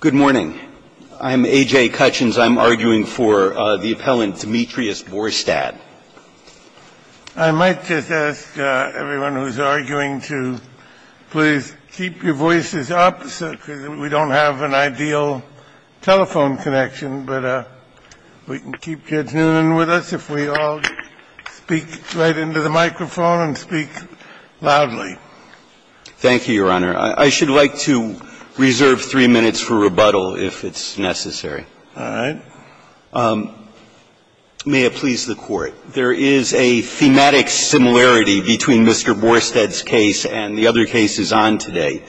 Good morning. I'm A.J. Cutchins. I'm arguing for the appellant Demetrius Borstad. I might just ask everyone who's arguing to please keep your voices up because we don't have an ideal telephone connection, but we can keep Judge Noonan with us if we all speak right into the microphone and speak loudly. Thank you, Your Honor. I should like to reserve three minutes for rebuttal if it's necessary. All right. May it please the Court. There is a thematic similarity between Mr. Borstad's case and the other cases on today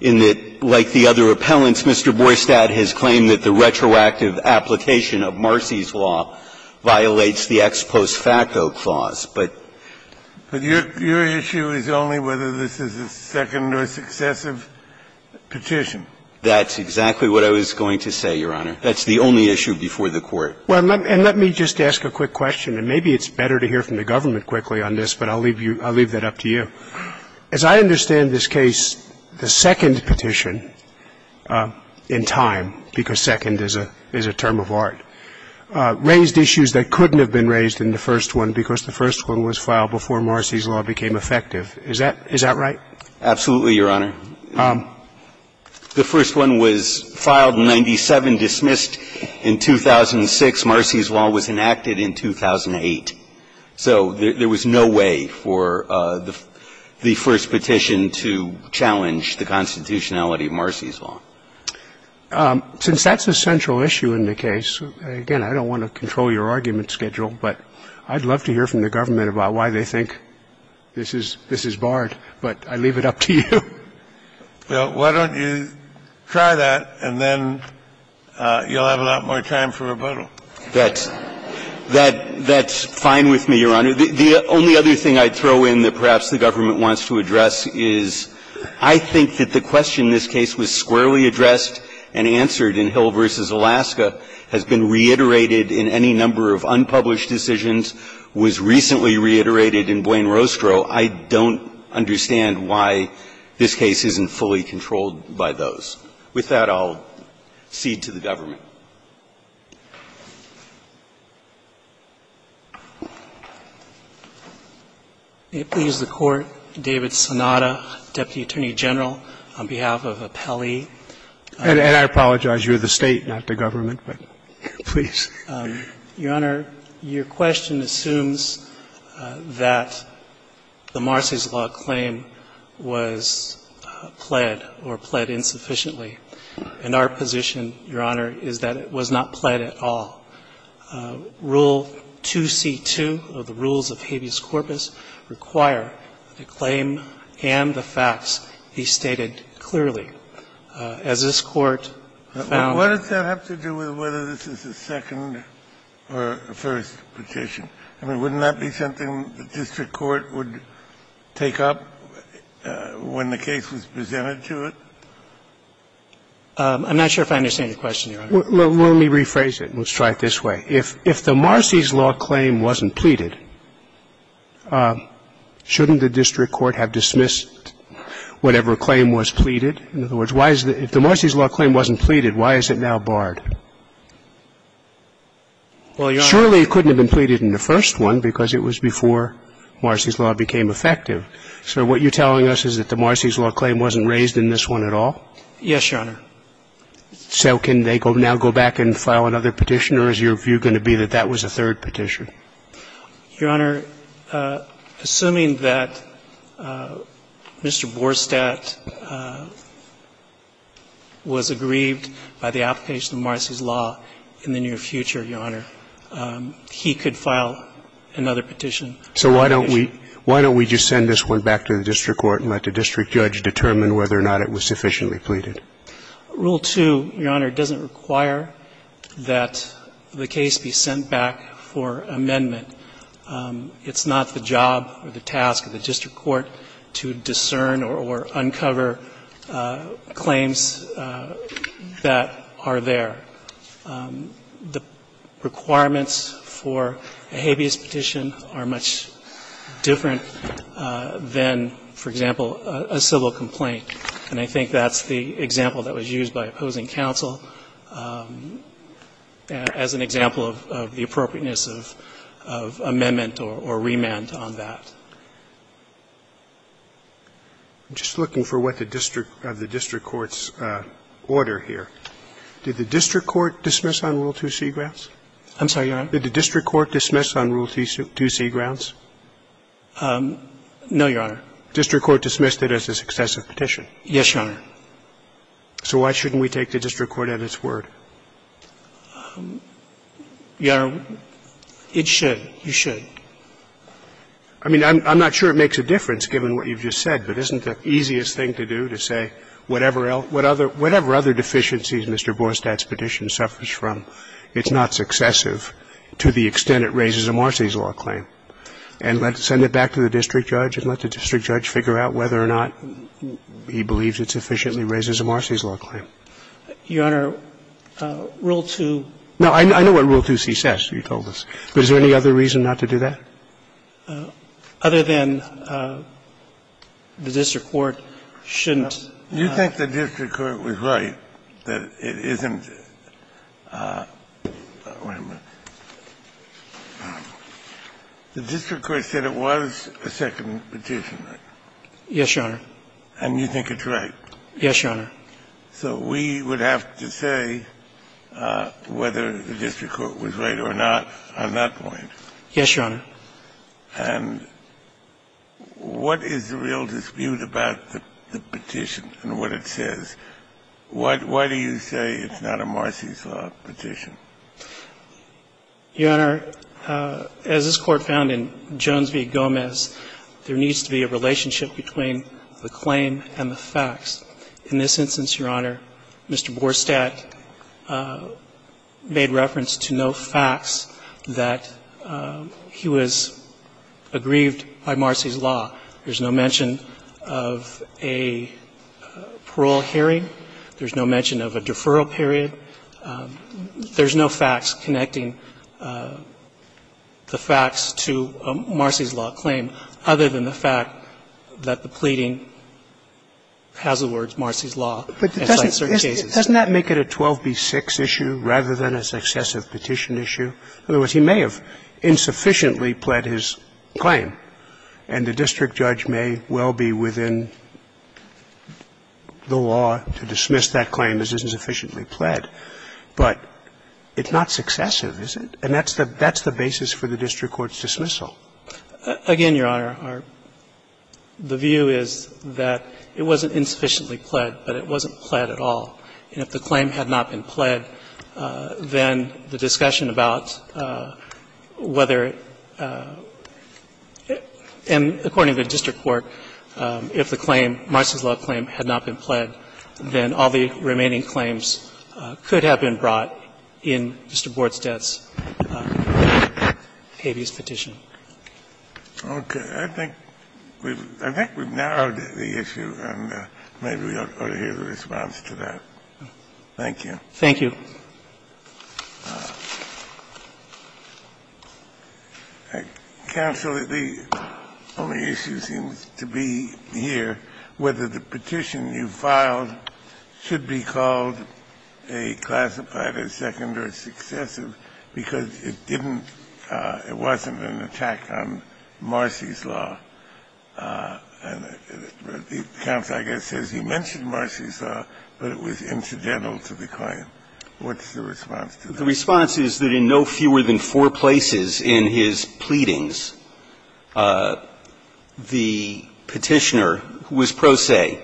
in that, like the other appellants, Mr. Borstad has claimed that the retroactive application of Marcy's law violates the ex post facto clause. But your issue is only whether this is a second or successive petition. That's exactly what I was going to say, Your Honor. That's the only issue before the Court. Well, and let me just ask a quick question. And maybe it's better to hear from the government quickly on this, but I'll leave that up to you. As I understand this case, the second petition in time, because second is a term of art, raised issues that couldn't have been raised in the first one because the first one was filed before Marcy's law became effective. Is that right? Absolutely, Your Honor. The first one was filed in 97, dismissed in 2006. Marcy's law was enacted in 2008. So there was no way for the first petition to challenge the constitutionality of Marcy's law. Since that's a central issue in the case, again, I don't want to control your argument schedule, but I'd love to hear from the government about why they think this is barred. But I leave it up to you. Well, why don't you try that, and then you'll have a lot more time for rebuttal. That's fine with me, Your Honor. The only other thing I'd throw in that perhaps the government wants to address is I think that the question in this case was squarely addressed and answered in Hill v. Alaska, has been reiterated in any number of unpublished decisions, was recently reiterated in Blaine-Rostrow. I don't understand why this case isn't fully controlled by those. With that, I'll cede to the government. Thank you, Your Honor. Please, the Court. David Sonata, Deputy Attorney General, on behalf of Appellee. And I apologize, you're the State, not the government, but please. Your Honor, your question assumes that the Marcy's law claim was pled or pled insufficiently. And our position, Your Honor, is that it was not pled at all. Rule 2C2 of the rules of habeas corpus require that the claim and the facts be stated clearly. As this Court found to do with whether this is a second or a first petition, I mean, wouldn't that be something the district court would take up when the case was presented to it? I'm not sure if I understand your question, Your Honor. Well, let me rephrase it. Let's try it this way. If the Marcy's law claim wasn't pleaded, shouldn't the district court have dismissed whatever claim was pleaded? In other words, if the Marcy's law claim wasn't pleaded, why is it now barred? Well, Your Honor. Surely it couldn't have been pleaded in the first one because it was before Marcy's law became effective. So what you're telling us is that the Marcy's law claim wasn't raised in this one at all? Yes, Your Honor. So can they now go back and file another petition? Or is your view going to be that that was a third petition? Your Honor, assuming that Mr. Borstadt was aggrieved by the application of Marcy's law in the near future, Your Honor, he could file another petition. So why don't we just send this one back to the district court and let the district judge determine whether or not it was sufficiently pleaded? Rule 2, Your Honor, doesn't require that the case be sent back for amendment. It's not the job or the task of the district court to discern or uncover claims that are there. The requirements for a habeas petition are much different than, for example, a civil complaint. And I think that's the example that was used by opposing counsel as an example of the appropriateness of amendment or remand on that. I'm just looking for what the district court's order here. Did the district court dismiss on Rule 2C grounds? I'm sorry, Your Honor? Did the district court dismiss on Rule 2C grounds? No, Your Honor. The district court dismissed it as a successive petition. Yes, Your Honor. So why shouldn't we take the district court at its word? Your Honor, it should. You should. I mean, I'm not sure it makes a difference given what you've just said, but isn't it the easiest thing to do to say whatever other deficiencies Mr. Borstad's petition suffers from, it's not successive to the extent it raises a Marcy's law claim, and let's send it back to the district judge and let the district judge figure out whether or not he believes it sufficiently raises a Marcy's law claim? Your Honor, Rule 2. No, I know what Rule 2C says. You told us. But is there any other reason not to do that? Other than the district court shouldn't. You think the district court was right that it isn't – wait a minute. The district court said it was a second petition. Yes, Your Honor. And you think it's right? Yes, Your Honor. So we would have to say whether the district court was right or not on that point. Yes, Your Honor. And what is the real dispute about the petition and what it says? Why do you say it's not a Marcy's law petition? Your Honor, as this Court found in Jones v. Gomez, there needs to be a relationship between the claim and the facts. In this instance, Your Honor, Mr. Borstadt made reference to no facts that he was aggrieved by Marcy's law. There's no mention of a parole hearing. There's no mention of a deferral period. There's no facts connecting the facts to a Marcy's law claim, other than the fact that the pleading has the words Marcy's law. But doesn't that make it a 12b-6 issue rather than a successive petition issue? In other words, he may have insufficiently pled his claim, and the district judge may well be within the law to dismiss that claim as insufficiently pled. But it's not successive, is it? And that's the basis for the district court's dismissal. Again, Your Honor, our — the view is that it wasn't insufficiently pled, but it wasn't pled at all. And if the claim had not been pled, then the discussion about whether — and according to the district court, if the claim, Marcy's law claim, had not been pled, then all the remaining claims could have been brought in Mr. Bordstadt's habeas petition. Kennedy, I think we've — I think we've narrowed the issue, and maybe we ought to hear the response to that. Thank you. Thank you. Kennedy, counsel, the only issue seems to be here whether the petition you filed should be called a classified, a second, or a successive, because it didn't — it wasn't an attack on Marcy's law. And the counsel, I guess, says he mentioned Marcy's law, but it was incidental to the claim. What's the response to that? The response is that in no fewer than four places in his pleadings, the petitioner was pro se,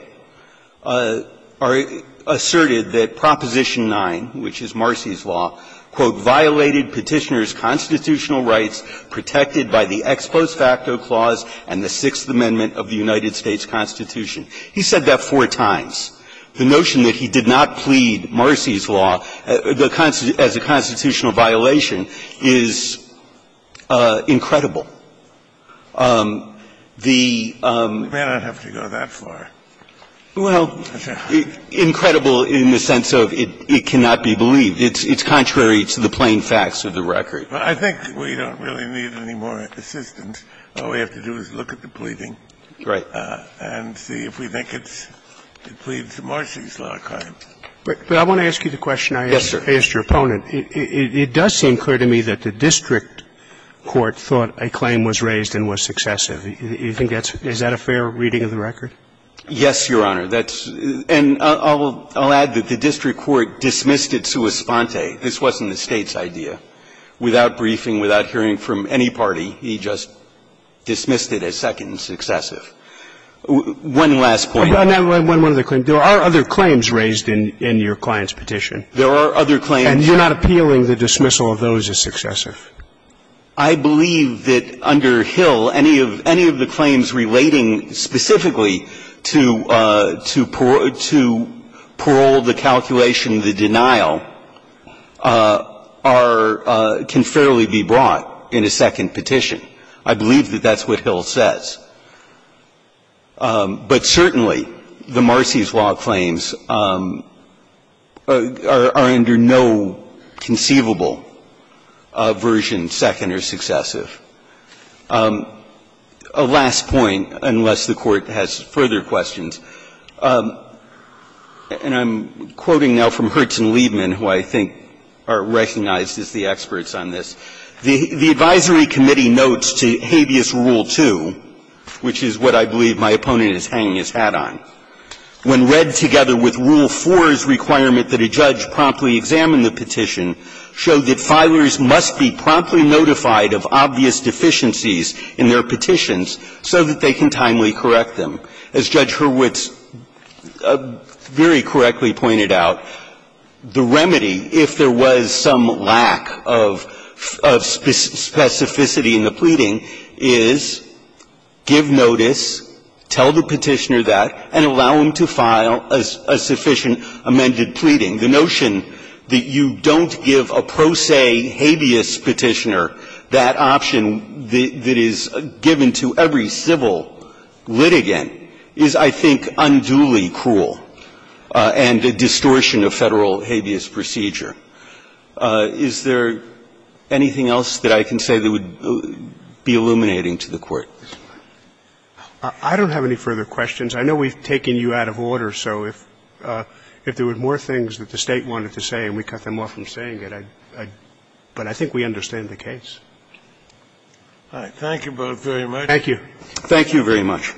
asserted that Proposition 9, which is Marcy's law, quote, violated Petitioner's constitutional rights protected by the Ex Post Facto Clause and the Sixth Amendment of the United States Constitution. He said that four times. The notion that he did not plead Marcy's law as a constitutional violation is incredible. The — We may not have to go that far. Well, incredible in the sense of it cannot be believed. It's contrary to the plain facts of the record. Well, I think we don't really need any more assistance. All we have to do is look at the pleading and see if we think it's — it pleads to Marcy's law kind. But I want to ask you the question I asked your opponent. It does seem clear to me that the district court thought a claim was raised and was successive. Do you think that's — is that a fair reading of the record? Yes, Your Honor. That's — and I'll add that the district court dismissed it sua sponte. This wasn't the State's idea. Without briefing, without hearing from any party, he just dismissed it as second and successive. One last point. One other claim. There are other claims raised in your client's petition. There are other claims. And you're not appealing the dismissal of those as successive. I believe that under Hill, any of — any of the claims relating specifically to — to parole, the calculation, the denial are — can fairly be brought in a second petition. I believe that that's what Hill says. But certainly, the Marcy's law claims are under no conceivable version, second or successive. A last point, unless the Court has further questions, and I'm quoting now from Hurts and Liebman, who I think are recognized as the experts on this. The advisory committee notes to habeas rule 2, which is what I believe my opponent is hanging his hat on, when read together with rule 4's requirement that a judge promptly examine the petition, show that filers must be promptly notified of obvious deficiencies in their petitions so that they can timely correct them. As Judge Hurwitz very correctly pointed out, the remedy, if there was some lack of specificity in the pleading, is give notice, tell the petitioner that, and allow them to file a sufficient amended pleading. The notion that you don't give a pro se habeas petitioner that option that is given to every civil litigant is, I think, unduly cruel and a distortion of Federal habeas procedure. Is there anything else that I can say that would be illuminating to the Court? I don't have any further questions. I know we've taken you out of order, so if there were more things that the State wanted to say and we cut them off from saying it, I'd – but I think we understand the case. Thank you. Thank you very much.